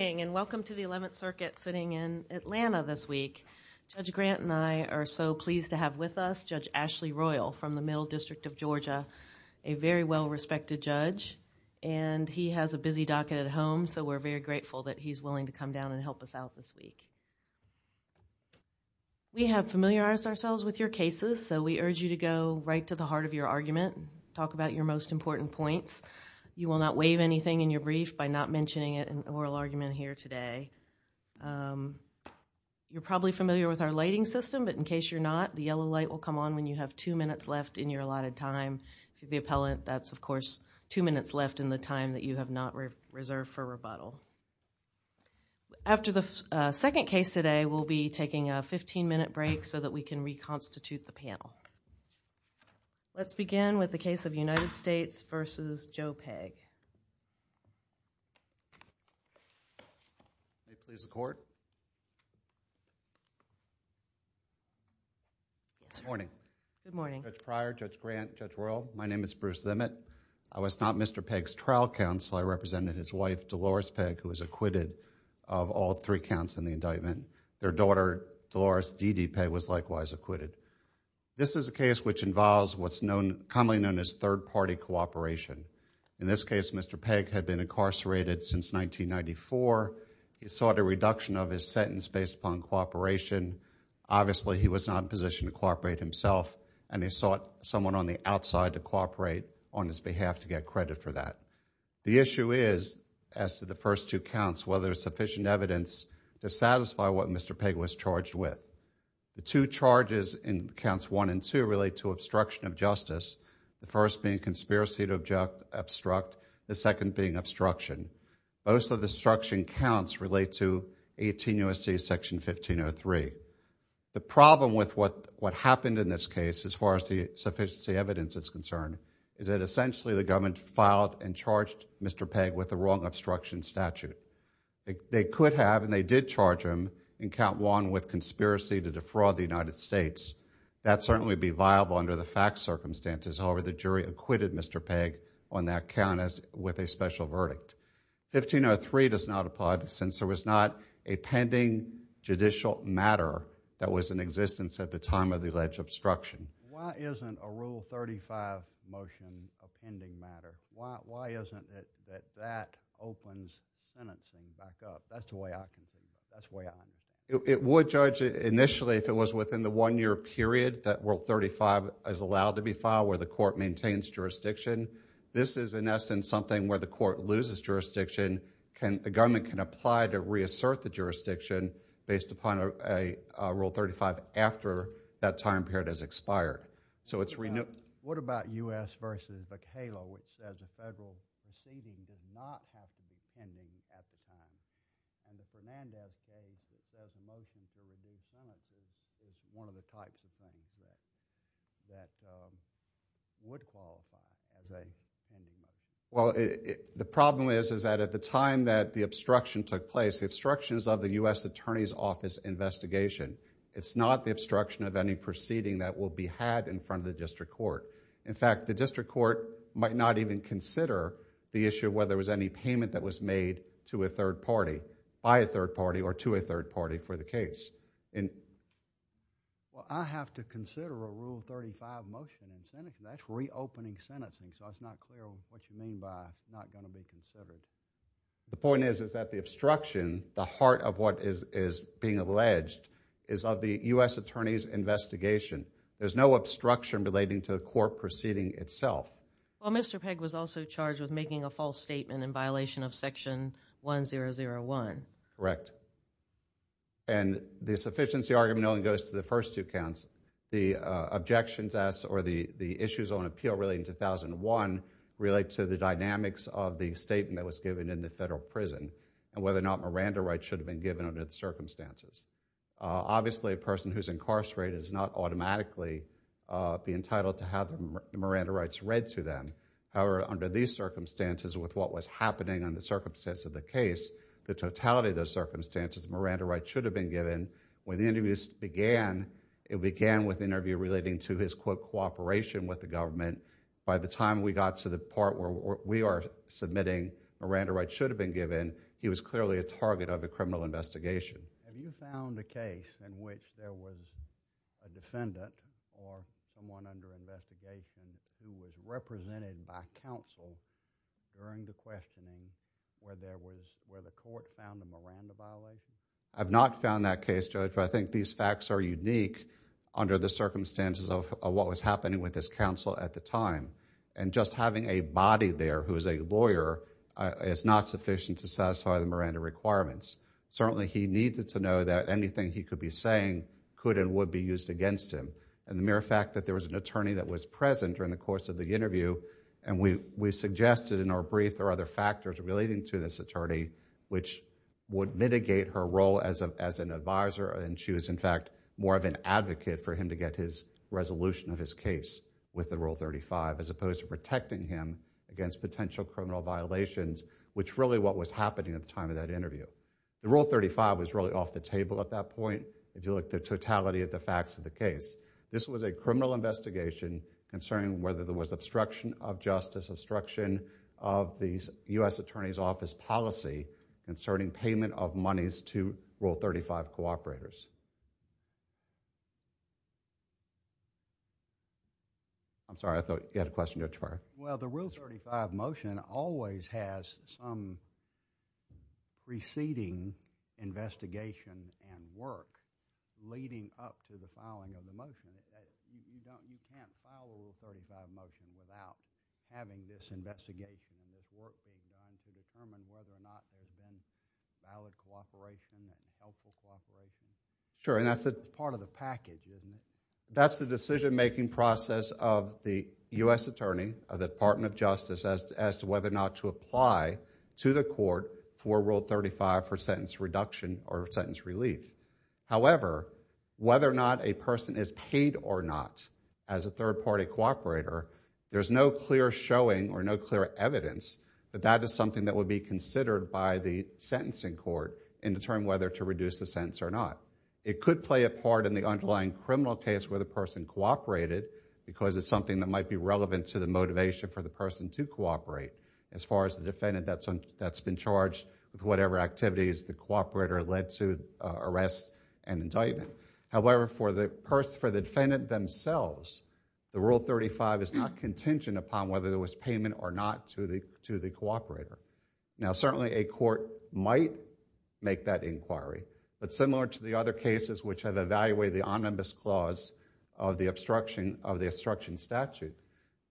and welcome to the 11th Circuit sitting in Atlanta this week. Judge Grant and I are so pleased to have with us Judge Ashley Royal from the Middle District of Georgia, a very well respected judge and he has a busy docket at home so we're very grateful that he's willing to come down and help us out this week. We have familiarized ourselves with your cases so we urge you to go right to the heart of your argument, talk about your most important points. You will not waive anything in your brief by not mentioning it in oral argument here today. You're probably familiar with our lighting system, but in case you're not, the yellow light will come on when you have two minutes left in your allotted time. To the appellant, that's of course two minutes left in the time that you have not reserved for rebuttal. After the second case today, we'll be taking a 15-minute break so that we can reconstitute the panel. Let's begin with the case of United States versus Joe Pegg. Bruce Zimmett. Good morning. Judge Prior, Judge Grant, Judge Royal, my name is Bruce Zimmett. I was not Mr. Pegg's trial counsel. I represented his wife, Dolores Pegg, who was acquitted of all three counts in the indictment. Their daughter, Dolores Dede Pegg, was likewise acquitted. This is a case which involves what's commonly known as third-party cooperation. In this case, Mr. Pegg had been incarcerated since 1994. He sought a reduction of his sentence based upon cooperation. Obviously, he was not in a position to cooperate himself, and he sought someone on the outside to cooperate on his behalf to get credit for that. The issue is, as to the first two counts, whether there's sufficient evidence to satisfy what Mr. Pegg was charged with. The two charges in counts one and two relate to obstruction of justice, the first being conspiracy to obstruct, the second being obstruction. Most of the obstruction counts relate to 18 U.S.C. section 1503. The problem with what happened in this case, as far as the sufficiency evidence is concerned, is that essentially the government filed and charged Mr. Pegg with the wrong obstruction statute. They could have, and they did charge him in count one with conspiracy to defraud the United States. That certainly would be viable under the facts circumstances. However, the jury acquitted Mr. Pegg on that count with a special verdict. 1503 does not apply since there was not a pending judicial matter that was in existence at the time of the alleged obstruction. Why isn't a Rule 35 motion a pending matter? Why isn't it that that opens sentencing back up? That's the way I can see it. That's the way I know. It would, Judge, initially, if it was within the one-year period that Rule 35 is allowed to be filed where the court maintains jurisdiction. This is, in essence, something where the court loses jurisdiction. The government can apply to reassert the jurisdiction based upon a time period as expired. So, it's renewed. What about U.S. v. McHale, which, as a federal proceeding, does not have to be pending at the time? Under Fernandez's case, it says a motion to reduce sentences is one of the types of things that would qualify as a pending motion. Well, the problem is, is that at the time that the obstruction took place, the obstructions of the U.S. Attorney's Office investigation, it's not the obstruction of any proceeding that will be had in front of the district court. In fact, the district court might not even consider the issue whether there was any payment that was made to a third party, by a third party, or to a third party for the case. Well, I have to consider a Rule 35 motion in sentencing. That's reopening sentencing. So, it's not clear what you mean by not going to be considered. The point is that the obstruction, the heart of what is being alleged, is of the U.S. Attorney's investigation. There's no obstruction relating to the court proceeding itself. Well, Mr. Pegg was also charged with making a false statement in violation of Section 1001. Correct. And the sufficiency argument only goes to the first two counts. The objections asked, or the issues on appeal relating to 1001, relate to the dynamics of the statement that was given in the federal prison, and whether or not Miranda rights should have been given under the circumstances. Obviously, a person who's incarcerated does not automatically be entitled to have Miranda rights read to them. However, under these circumstances, with what was happening under the circumstances of the case, the totality of those circumstances, Miranda rights should have been given. When the interviews began, it began with an interview relating to his quote, cooperation with the government. By the time we got to the part where we are submitting Miranda rights should have been given, he was clearly a target of a criminal investigation. Have you found a case in which there was a defendant or someone under investigation who was represented by counsel during the questioning where there was, where the court found a Miranda violation? I've not found that case, Judge, but I think these facts are unique under the circumstances of what was happening with this counsel at the time. Just having a body there who is a lawyer is not sufficient to satisfy the Miranda requirements. Certainly, he needed to know that anything he could be saying could and would be used against him. The mere fact that there was an attorney that was present during the course of the interview, and we suggested in our brief there are other factors relating to this attorney, which would mitigate her role as an advisor, and she was in fact more of an advocate for him to get his resolution of his case with the Rule 35, as opposed to protecting him against potential criminal violations, which really what was happening at the time of that interview. The Rule 35 was really off the table at that point, if you look at the totality of the facts of the case. This was a criminal investigation concerning whether there was obstruction of justice, obstruction of the U.S. Attorney's Office policy, inserting payment of monies to Rule 35 cooperators. I'm sorry, I thought you had a question, Judge Breyer. Well, the Rule 35 motion always has some preceding investigation and work leading up to the Rule 35 motion without having this investigation and this work being done to determine whether or not there's been valid cooperation and helpful cooperation. Sure, and that's part of the package, isn't it? That's the decision-making process of the U.S. Attorney, of the Department of Justice, as to whether or not to apply to the court for Rule 35 for sentence reduction or sentence There's no clear showing or no clear evidence that that is something that would be considered by the sentencing court in determining whether to reduce the sentence or not. It could play a part in the underlying criminal case where the person cooperated, because it's something that might be relevant to the motivation for the person to cooperate, as far as the defendant that's been charged with whatever activities the cooperator led to Rule 35 is not contingent upon whether there was payment or not to the cooperator. Now certainly a court might make that inquiry, but similar to the other cases which have evaluated the omnibus clause of the obstruction statute,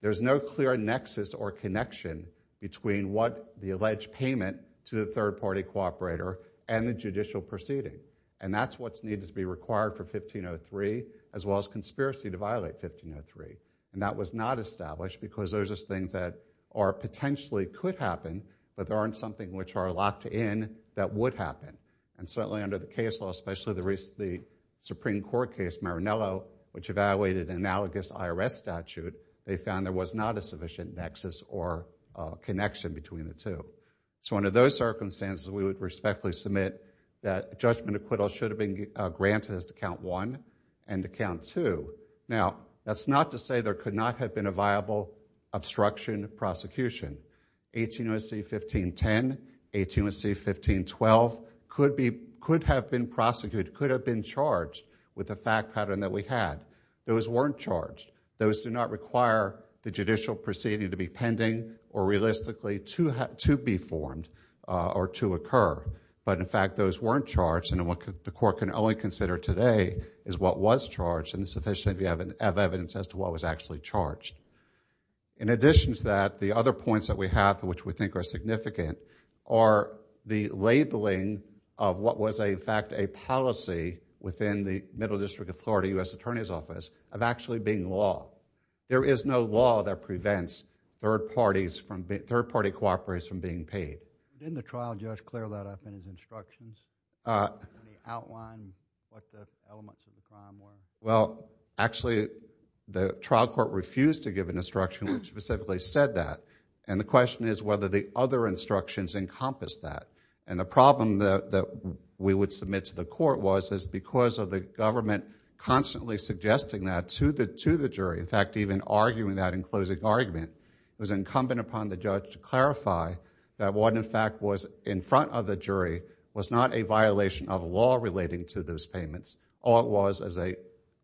there's no clear nexus or connection between what the alleged payment to the third-party cooperator and the judicial proceeding. And that's what needs to be required for 1503, as well as conspiracy to violate 1503. And that was not established because those are things that potentially could happen, but aren't something which are locked in that would happen. And certainly under the case law, especially the Supreme Court case Maranello, which evaluated analogous IRS statute, they found there was not a sufficient nexus or connection between the two. So under those circumstances, we would respectfully submit that judgment acquittal should have been granted as to count one and to count two. Now, that's not to say there could not have been a viable obstruction prosecution. 1803.15.10, 1803.15.12 could have been prosecuted, could have been charged with the fact pattern that we had. Those weren't charged. Those do not require the judicial proceeding to be pending or realistically to be formed or to occur. But in fact, those weren't charged. And what the court can only consider today is what was charged and sufficient evidence as to what was actually charged. In addition to that, the other points that we have, which we think are significant, are the labeling of what was, in fact, a policy within the Middle District of Florida U.S. Attorney's Office of actually being law. There is no law that prevents third-party cooperators from being paid. Didn't the trial judge clear that up in his instructions? Did he outline what the elements of the crime were? Well, actually, the trial court refused to give an instruction which specifically said that. And the question is whether the other instructions encompass that. And the problem that we would submit to the court was, is because of the government constantly suggesting that to the jury, in fact, even arguing that in closing argument, it was incumbent upon the judge to clarify that what, in fact, was in front of the jury was not a violation of law relating to those payments, or it was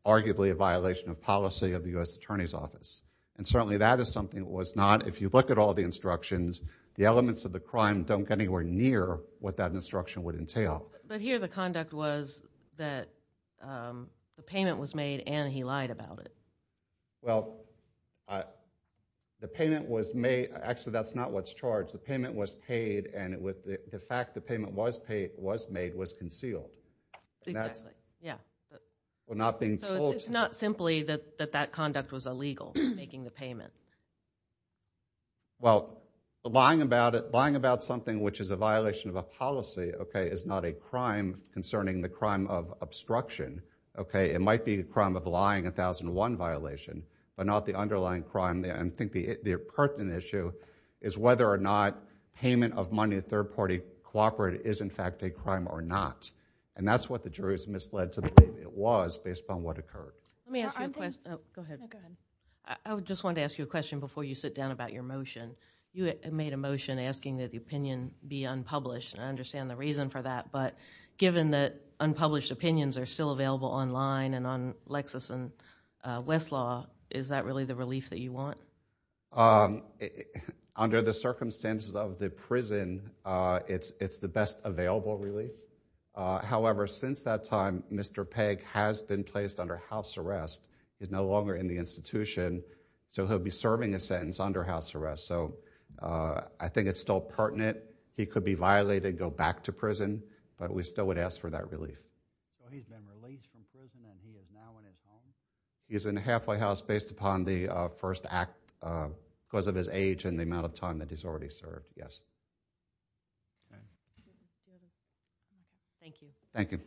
arguably a violation of policy of the U.S. Attorney's Office. And certainly that is something that was not, if you look at all the instructions, the elements of the crime don't get anywhere near what that instruction would entail. But here the conduct was that the payment was made and he lied about it. Well, the payment was made. Actually, that's not what's charged. The payment was paid and the fact the payment was made was concealed. Exactly. Yeah. Well, not being told. So it's not simply that that conduct was illegal, making the payment. Well, lying about something which is a violation of a policy, okay, is not a crime concerning the crime of obstruction, okay? It might be a crime of lying, a 1001 violation, but not the underlying crime. I think the pertinent issue is whether or not payment of money a third party cooperated is, in fact, a crime or not. And that's what the jury's misled to believe it was based upon what occurred. Let me ask you a question. Go ahead. Go ahead. I just wanted to ask you a question before you sit down about your motion. You made a motion asking that the opinion be unpublished, and I understand the reason for that. But given that unpublished opinions are still available online and on Lexis and Westlaw, is that really the relief that you want? Under the circumstances of the prison, it's the best available relief. However, since that time, Mr. Pegg has been placed under house arrest. He's no longer in the institution, so he'll be serving a sentence under house arrest. So I think it's still pertinent. He could be violated, go back to prison, but we still would ask for that relief. So he's been released from prison, and he is now in his home? He's in a halfway house based upon the first act because of his age and the amount of time that he's already served, yes. Thank you. Thank you.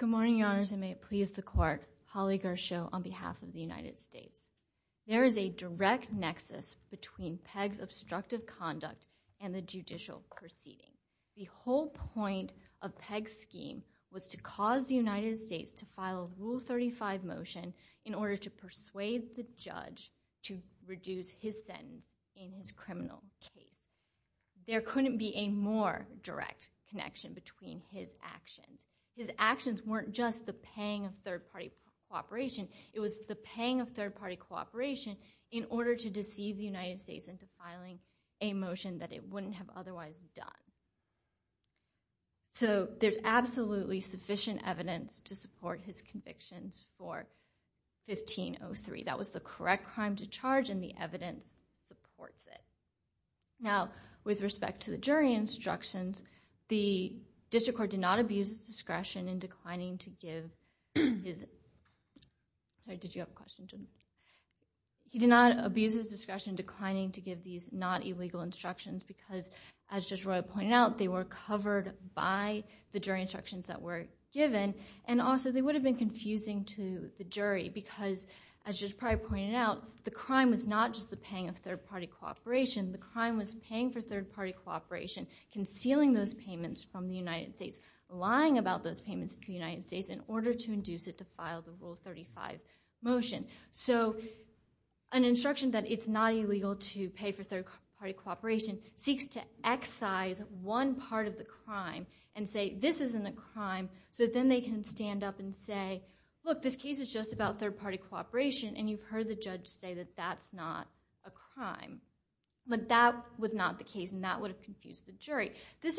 Good morning, Your Honors, and may it please the court. Holly Gershow on behalf of the United States. There is a direct nexus between Pegg's obstructive conduct and the judicial proceeding. The whole point of Pegg's scheme was to cause the United States to file a Rule 35 motion in order to persuade the judge to reduce his sentence in his criminal case. There couldn't be a more direct connection between his actions. His actions weren't just the paying of third-party cooperation. It was the paying of third-party cooperation in order to deceive the United States into filing a motion that it wouldn't have otherwise done. So there's absolutely sufficient evidence to support his convictions for 1503. That was the correct crime to charge, and the evidence supports it. Now, with respect to the jury instructions, the district court did not abuse its discretion in declining to give his... Sorry, did you have a question? He did not abuse his discretion declining to give these not-illegal instructions because, as Judge Roy pointed out, they were covered by the jury instructions that were given, and also they would have been confusing to the jury because, as Judge Pryor pointed out, the crime was not just the paying of third-party cooperation. The crime was paying for third-party cooperation, concealing those payments from the United States, lying about those payments to the United States in order to induce it to file the Rule 35 motion. So an instruction that it's not illegal to pay for third-party cooperation seeks to excise one part of the crime and say, this isn't a crime, so then they can stand up and say, look, this case is just about third-party cooperation, and you've heard the judge say that that's not a crime. But that was not the case, and that would have confused the jury. as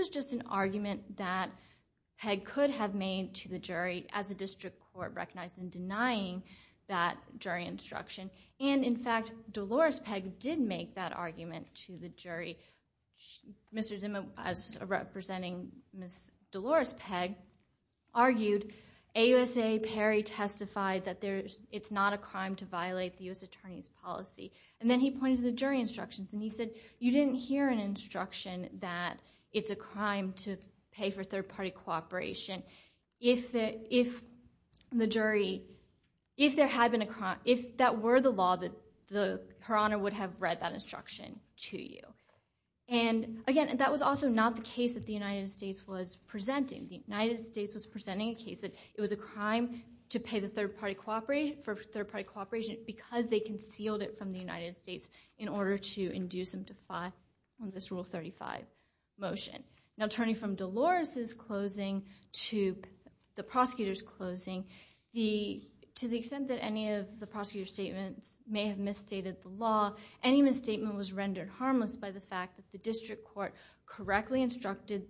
the district court recognized in denying that jury instruction. And, in fact, Dolores Pegg did make that argument to the jury. Mr. Zimmer, representing Ms. Dolores Pegg, argued, AUSA Perry testified that it's not a crime to violate the U.S. Attorney's policy. And then he pointed to the jury instructions, and he said, you didn't hear an instruction that it's a crime to pay for third-party cooperation if that were the law, Her Honor would have read that instruction to you. And, again, that was also not the case that the United States was presenting. The United States was presenting a case that it was a crime to pay for third-party cooperation because they concealed it from the United States in order to induce them to file this Rule 35 motion. Now, turning from Dolores' closing to the prosecutor's closing, to the extent that any of the prosecutor's statements may have misstated the law, any misstatement was rendered harmless by the fact that the district court correctly instructed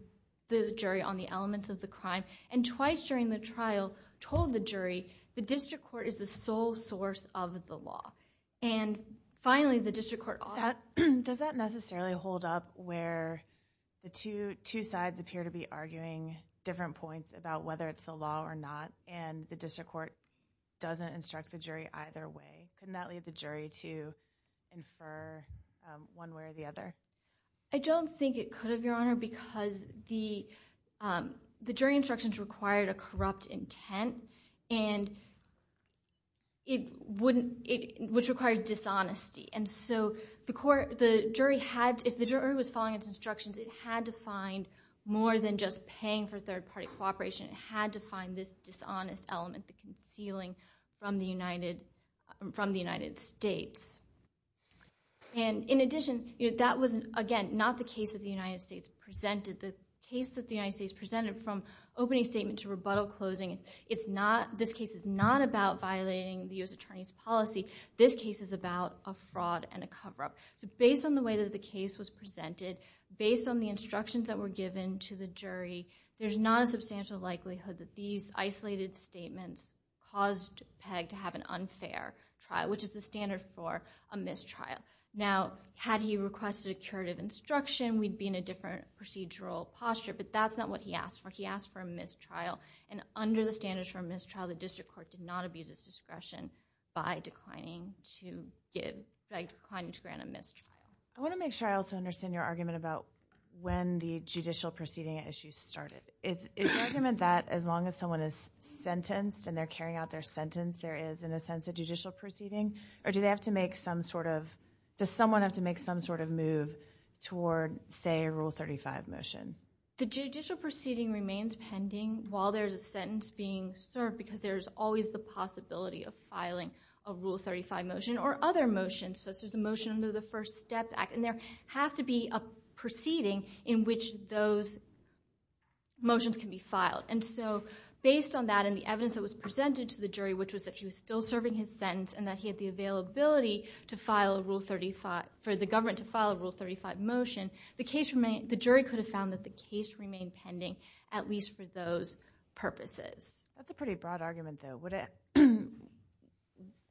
the jury on the elements of the crime, and twice during the trial told the jury the district court is the sole source of the law. And, finally, the district court also— Does that necessarily hold up where the two sides appear to be arguing different points about whether it's the law or not, and the district court doesn't instruct the jury either way? Couldn't that lead the jury to infer one way or the other? I don't think it could have, Your Honor, because the jury instructions required a corrupt intent, which requires dishonesty. And so if the jury was following its instructions, it had to find more than just paying for third-party cooperation. It had to find this dishonest element, the concealing from the United States. And, in addition, that was, again, not the case that the United States presented. The case that the United States presented from opening statement to rebuttal closing, this case is not about violating the U.S. attorney's policy. This case is about a fraud and a cover-up. So based on the way that the case was presented, based on the instructions that were given to the jury, there's not a substantial likelihood that these isolated statements caused Pegg to have an unfair trial, which is the standard for a mistrial. Now, had he requested a curative instruction, we'd be in a different procedural posture, but that's not what he asked for. He asked for a mistrial, and under the standards for a mistrial, the district court did not abuse its discretion by declining to grant a mistrial. I want to make sure I also understand your argument about when the judicial proceeding issues started. Is your argument that as long as someone is sentenced and they're carrying out their sentence, there is, in a sense, a judicial proceeding? Or does someone have to make some sort of move toward, say, a Rule 35 motion? The judicial proceeding remains pending while there's a sentence being served because there's always the possibility of filing a Rule 35 motion or other motions. So there's a motion under the First Step Act, and there has to be a proceeding in which those motions can be filed. And so based on that and the evidence that was presented to the jury, which was that he was still serving his sentence and that he had the availability for the government to file a Rule 35 motion, the jury could have found that the case remained pending at least for those purposes. That's a pretty broad argument, though.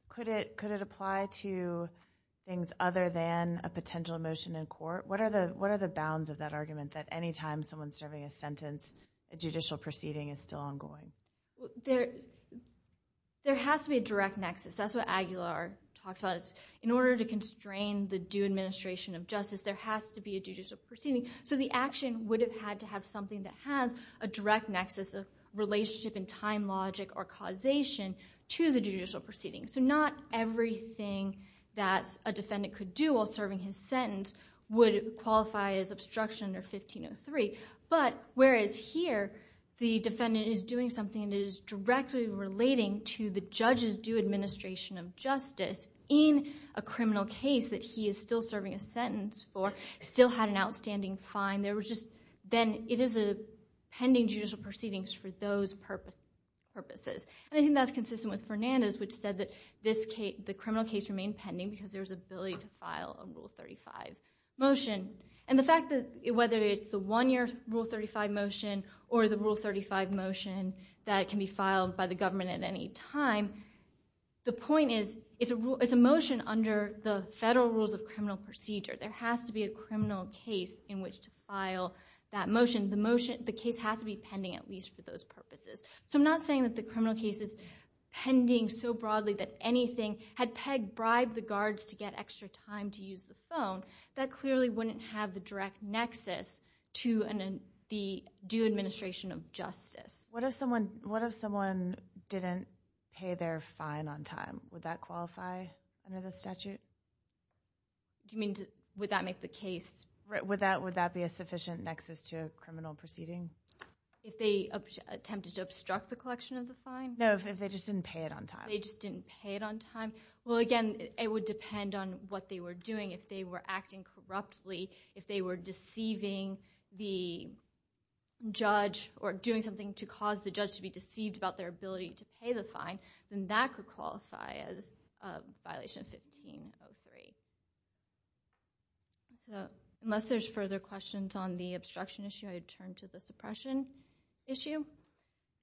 Could it apply to things other than a potential motion in court? What are the bounds of that argument that any time someone's serving a sentence, a judicial proceeding is still ongoing? There has to be a direct nexus. That's what Aguilar talks about. In order to constrain the due administration of justice, there has to be a judicial proceeding. So the action would have had to have something that has a direct nexus, a relationship in time logic or causation to the judicial proceeding. So not everything that a defendant could do while serving his sentence would qualify as obstruction under 1503. But whereas here the defendant is doing something that is directly relating to the judge's due administration of justice in a criminal case that he is still serving a sentence for, still had an outstanding fine, then it is a pending judicial proceeding for those purposes. I think that's consistent with Fernandez, which said that the criminal case remained pending because there was an ability to file a Rule 35 motion. And the fact that whether it's the one-year Rule 35 motion or the Rule 35 motion that can be filed by the government at any time, the point is it's a motion under the federal rules of criminal procedure. There has to be a criminal case in which to file that motion. The case has to be pending at least for those purposes. So I'm not saying that the criminal case is pending so broadly that anything had pegged, that clearly wouldn't have the direct nexus to the due administration of justice. What if someone didn't pay their fine on time? Would that qualify under the statute? Do you mean would that make the case? Would that be a sufficient nexus to a criminal proceeding? If they attempted to obstruct the collection of the fine? No, if they just didn't pay it on time. They just didn't pay it on time. Well, again, it would depend on what they were doing. If they were acting corruptly, if they were deceiving the judge or doing something to cause the judge to be deceived about their ability to pay the fine, then that could qualify as a violation of 1503. Unless there's further questions on the obstruction issue, I would turn to the suppression issue.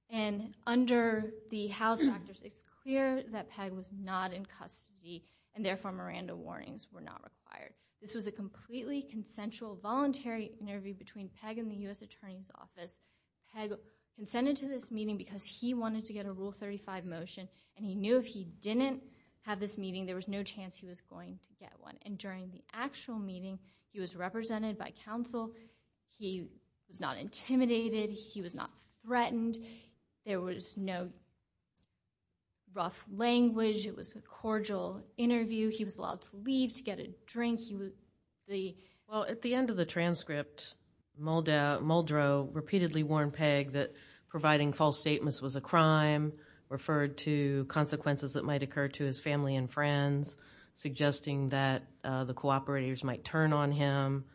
And under the House of Actors, it's clear that PEG was not in custody and therefore Miranda warnings were not required. This was a completely consensual, voluntary interview between PEG and the U.S. Attorney's Office. PEG consented to this meeting because he wanted to get a Rule 35 motion and he knew if he didn't have this meeting, there was no chance he was going to get one. And during the actual meeting, he was represented by counsel. He was not intimidated. He was not threatened. There was no rough language. It was a cordial interview. He was allowed to leave to get a drink. Well, at the end of the transcript, Muldrow repeatedly warned PEG that providing false statements was a crime, referred to consequences that might occur to his family and friends, suggesting that the cooperators might turn on him.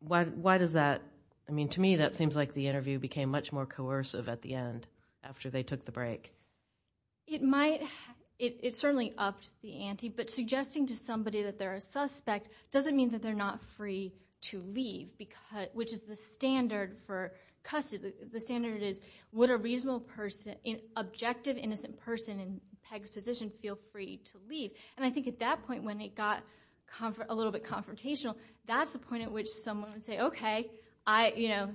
Why does that? I mean, to me, that seems like the interview became much more coercive at the end after they took the break. It certainly upped the ante, but suggesting to somebody that they're a suspect doesn't mean that they're not free to leave, which is the standard for custody. The standard is would an objective, innocent person in PEG's position feel free to leave? And I think at that point, when it got a little bit confrontational, that's the point at which someone would say, okay,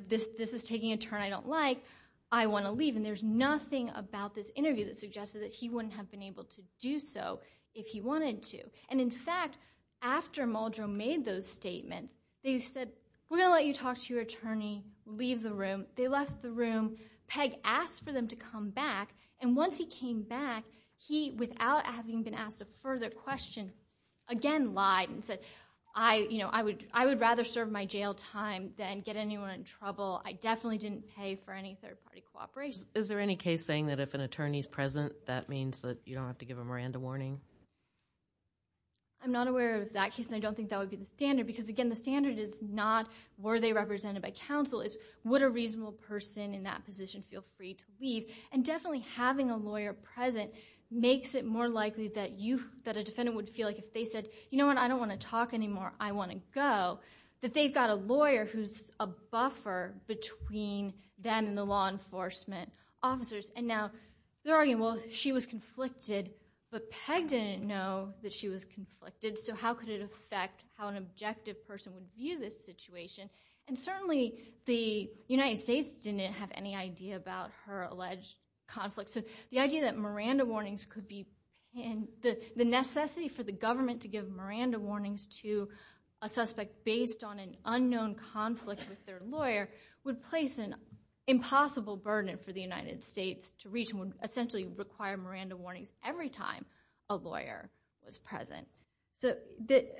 this is taking a turn I don't like. I want to leave. And there's nothing about this interview that suggested that he wouldn't have been able to do so if he wanted to. And in fact, after Muldrow made those statements, they said, we're going to let you talk to your attorney, leave the room. They left the room. PEG asked for them to come back. And once he came back, he, without having been asked a further question, again lied and said, I would rather serve my jail time than get anyone in trouble. I definitely didn't pay for any third-party cooperation. Is there any case saying that if an attorney is present, that means that you don't have to give a Miranda warning? I'm not aware of that case, and I don't think that would be the standard, because, again, the standard is not were they represented by counsel. It's would a reasonable person in that position feel free to leave? And definitely having a lawyer present makes it more likely that a defendant would feel like if they said, you know what, I don't want to talk anymore, I want to go, that they've got a lawyer who's a buffer between them and the law enforcement officers. And now they're arguing, well, she was conflicted, but PEG didn't know that she was conflicted, so how could it affect how an objective person would view this situation? And certainly the United States didn't have any idea about her alleged conflict. So the idea that Miranda warnings could be, and the necessity for the government to give Miranda warnings to a suspect based on an unknown conflict with their lawyer would place an impossible burden for the United States to reach and would essentially require Miranda warnings every time a lawyer was present. So,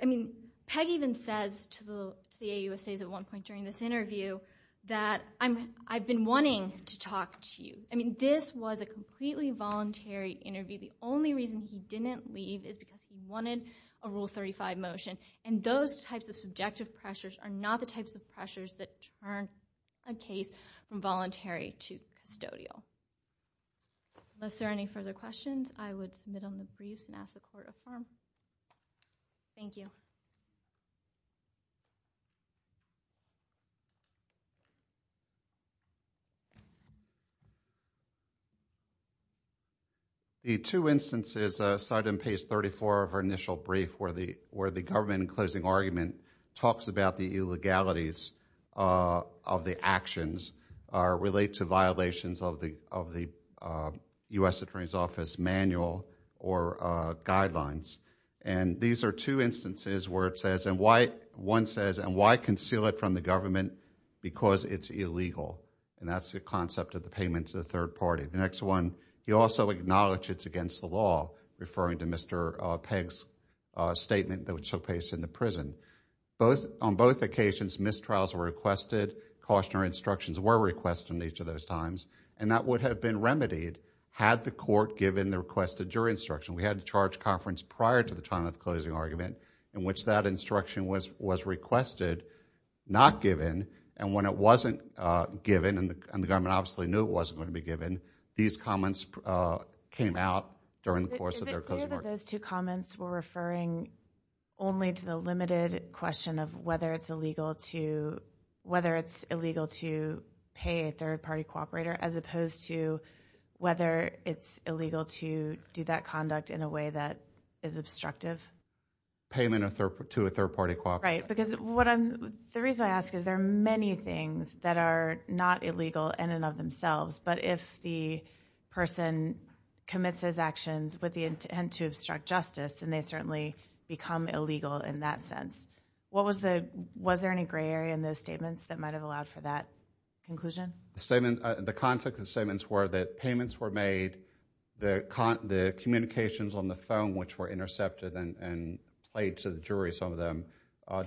I mean, PEG even says to the AUSAs at one point during this interview that I've been wanting to talk to you. I mean, this was a completely voluntary interview. The only reason he didn't leave is because he wanted a Rule 35 motion, and those types of subjective pressures are not the types of pressures that turn a case from voluntary to custodial. Unless there are any further questions, I would submit on the briefs and ask the court to affirm. Thank you. Thank you. The two instances cited in page 34 of our initial brief where the government in closing argument talks about the illegalities of the actions relate to violations of the U.S. Attorney's Office manual or guidelines. And these are two instances where it says, and one says, and why conceal it from the government? Because it's illegal. And that's the concept of the payment to the third party. The next one, he also acknowledged it's against the law, referring to Mr. PEG's statement that was so pasted in the prison. On both occasions, mistrials were requested, cautionary instructions were requested in each of those times, and that would have been remedied had the court given the requested jury instruction. We had a charge conference prior to the time of the closing argument in which that instruction was requested, not given, and when it wasn't given, and the government obviously knew it wasn't going to be given, these comments came out during the course of their closing argument. Is it clear that those two comments were referring only to the limited question of whether it's illegal to pay a third party cooperator as opposed to whether it's illegal to do that conduct in a way that is obstructive? Payment to a third party cooperator. Right, because the reason I ask is there are many things that are not illegal in and of themselves, but if the person commits those actions with the intent to obstruct justice, then they certainly become illegal in that sense. Was there any gray area in those statements that might have allowed for that conclusion? The context of the statements were that payments were made, the communications on the phone which were intercepted and played to the jury, some of them,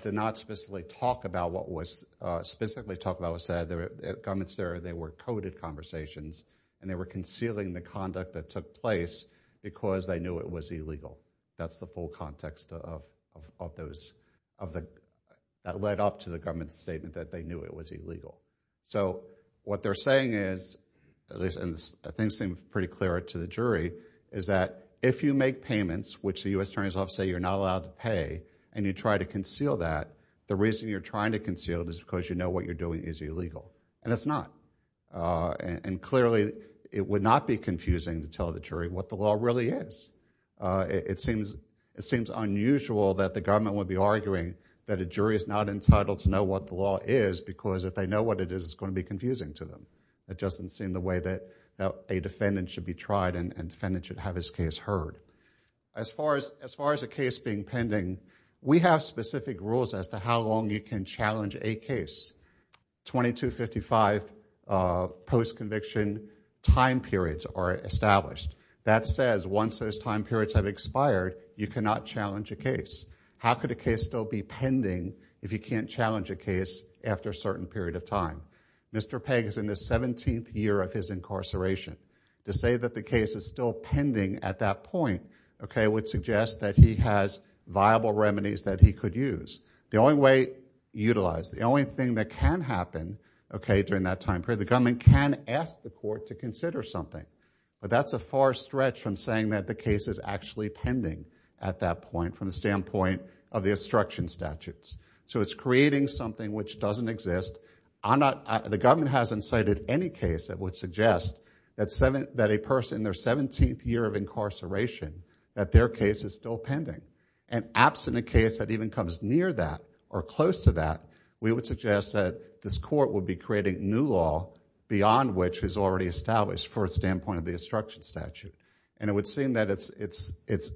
did not specifically talk about what was said. The government said they were coded conversations, and they were concealing the conduct that took place because they knew it was illegal. That's the full context that led up to the government's statement that they knew it was illegal. So what they're saying is, and things seem pretty clear to the jury, is that if you make payments, which the U.S. attorneys say you're not allowed to pay, and you try to conceal that, the reason you're trying to conceal it is because you know what you're doing is illegal, and it's not. And clearly it would not be confusing to tell the jury what the law really is. It seems unusual that the government would be arguing that a jury is not entitled to know what the law is because if they know what it is, it's going to be confusing to them. It doesn't seem the way that a defendant should be tried and a defendant should have his case heard. As far as a case being pending, we have specific rules as to how long you can challenge a case. 2255 post-conviction time periods are established. That says once those time periods have expired, you cannot challenge a case. How could a case still be pending if you can't challenge a case after a certain period of time? Mr. Pegg is in his 17th year of his incarceration. To say that the case is still pending at that point would suggest that he has viable remedies that he could use. The only thing that can happen during that time period, the government can ask the court to consider something, but that's a far stretch from saying that the case is actually pending at that point from the standpoint of the obstruction statutes. So it's creating something which doesn't exist. The government hasn't cited any case that would suggest that a person in their 17th year of incarceration, that their case is still pending. And absent a case that even comes near that or close to that, we would suggest that this court would be creating new law beyond which is already established for a standpoint of the obstruction statute. And it would seem that it's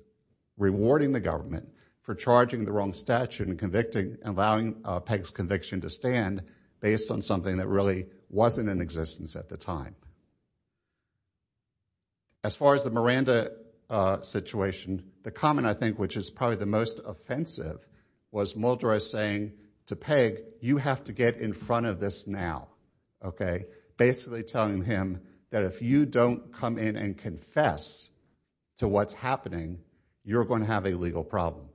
rewarding the government for charging the wrong statute and allowing Pegg's conviction to stand based on something that really wasn't in existence at the time. As far as the Miranda situation, the comment I think which is probably the most offensive was Muldry saying to Pegg, you have to get in front of this now. Basically telling him that if you don't come in and confess to what's happening, you're going to have a legal problem.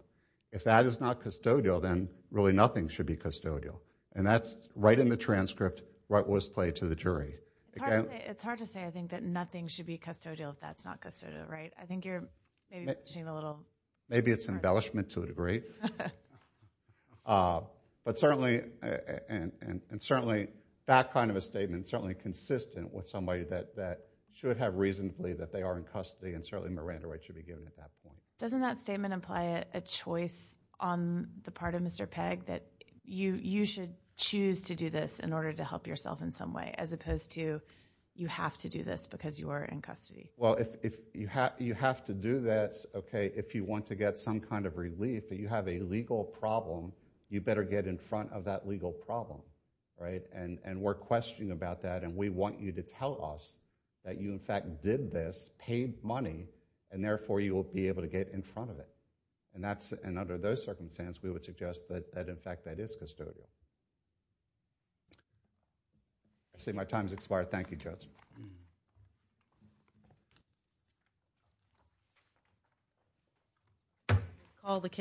If that is not custodial, then really nothing should be custodial. And that's right in the transcript what was played to the jury. It's hard to say, I think, that nothing should be custodial if that's not custodial, right? I think you're maybe pushing a little... Maybe it's embellishment to a degree. But certainly... And certainly that kind of a statement is certainly consistent with somebody that should have reason to believe that they are in custody, and certainly Miranda rights should be given at that point. Doesn't that statement imply a choice on the part of Mr. Pegg that you should choose to do this in order to help yourself in some way, as opposed to you have to do this because you are in custody? Well, if you have to do this, OK, if you want to get some kind of relief, if you have a legal problem, you better get in front of that legal problem, right? And we're questioning about that, and we want you to tell us that you, in fact, did this, paid money, and therefore you will be able to get in front of it. And under those circumstances, we would suggest that, in fact, that is custodial. I see my time has expired. Thank you, Judge. Thank you.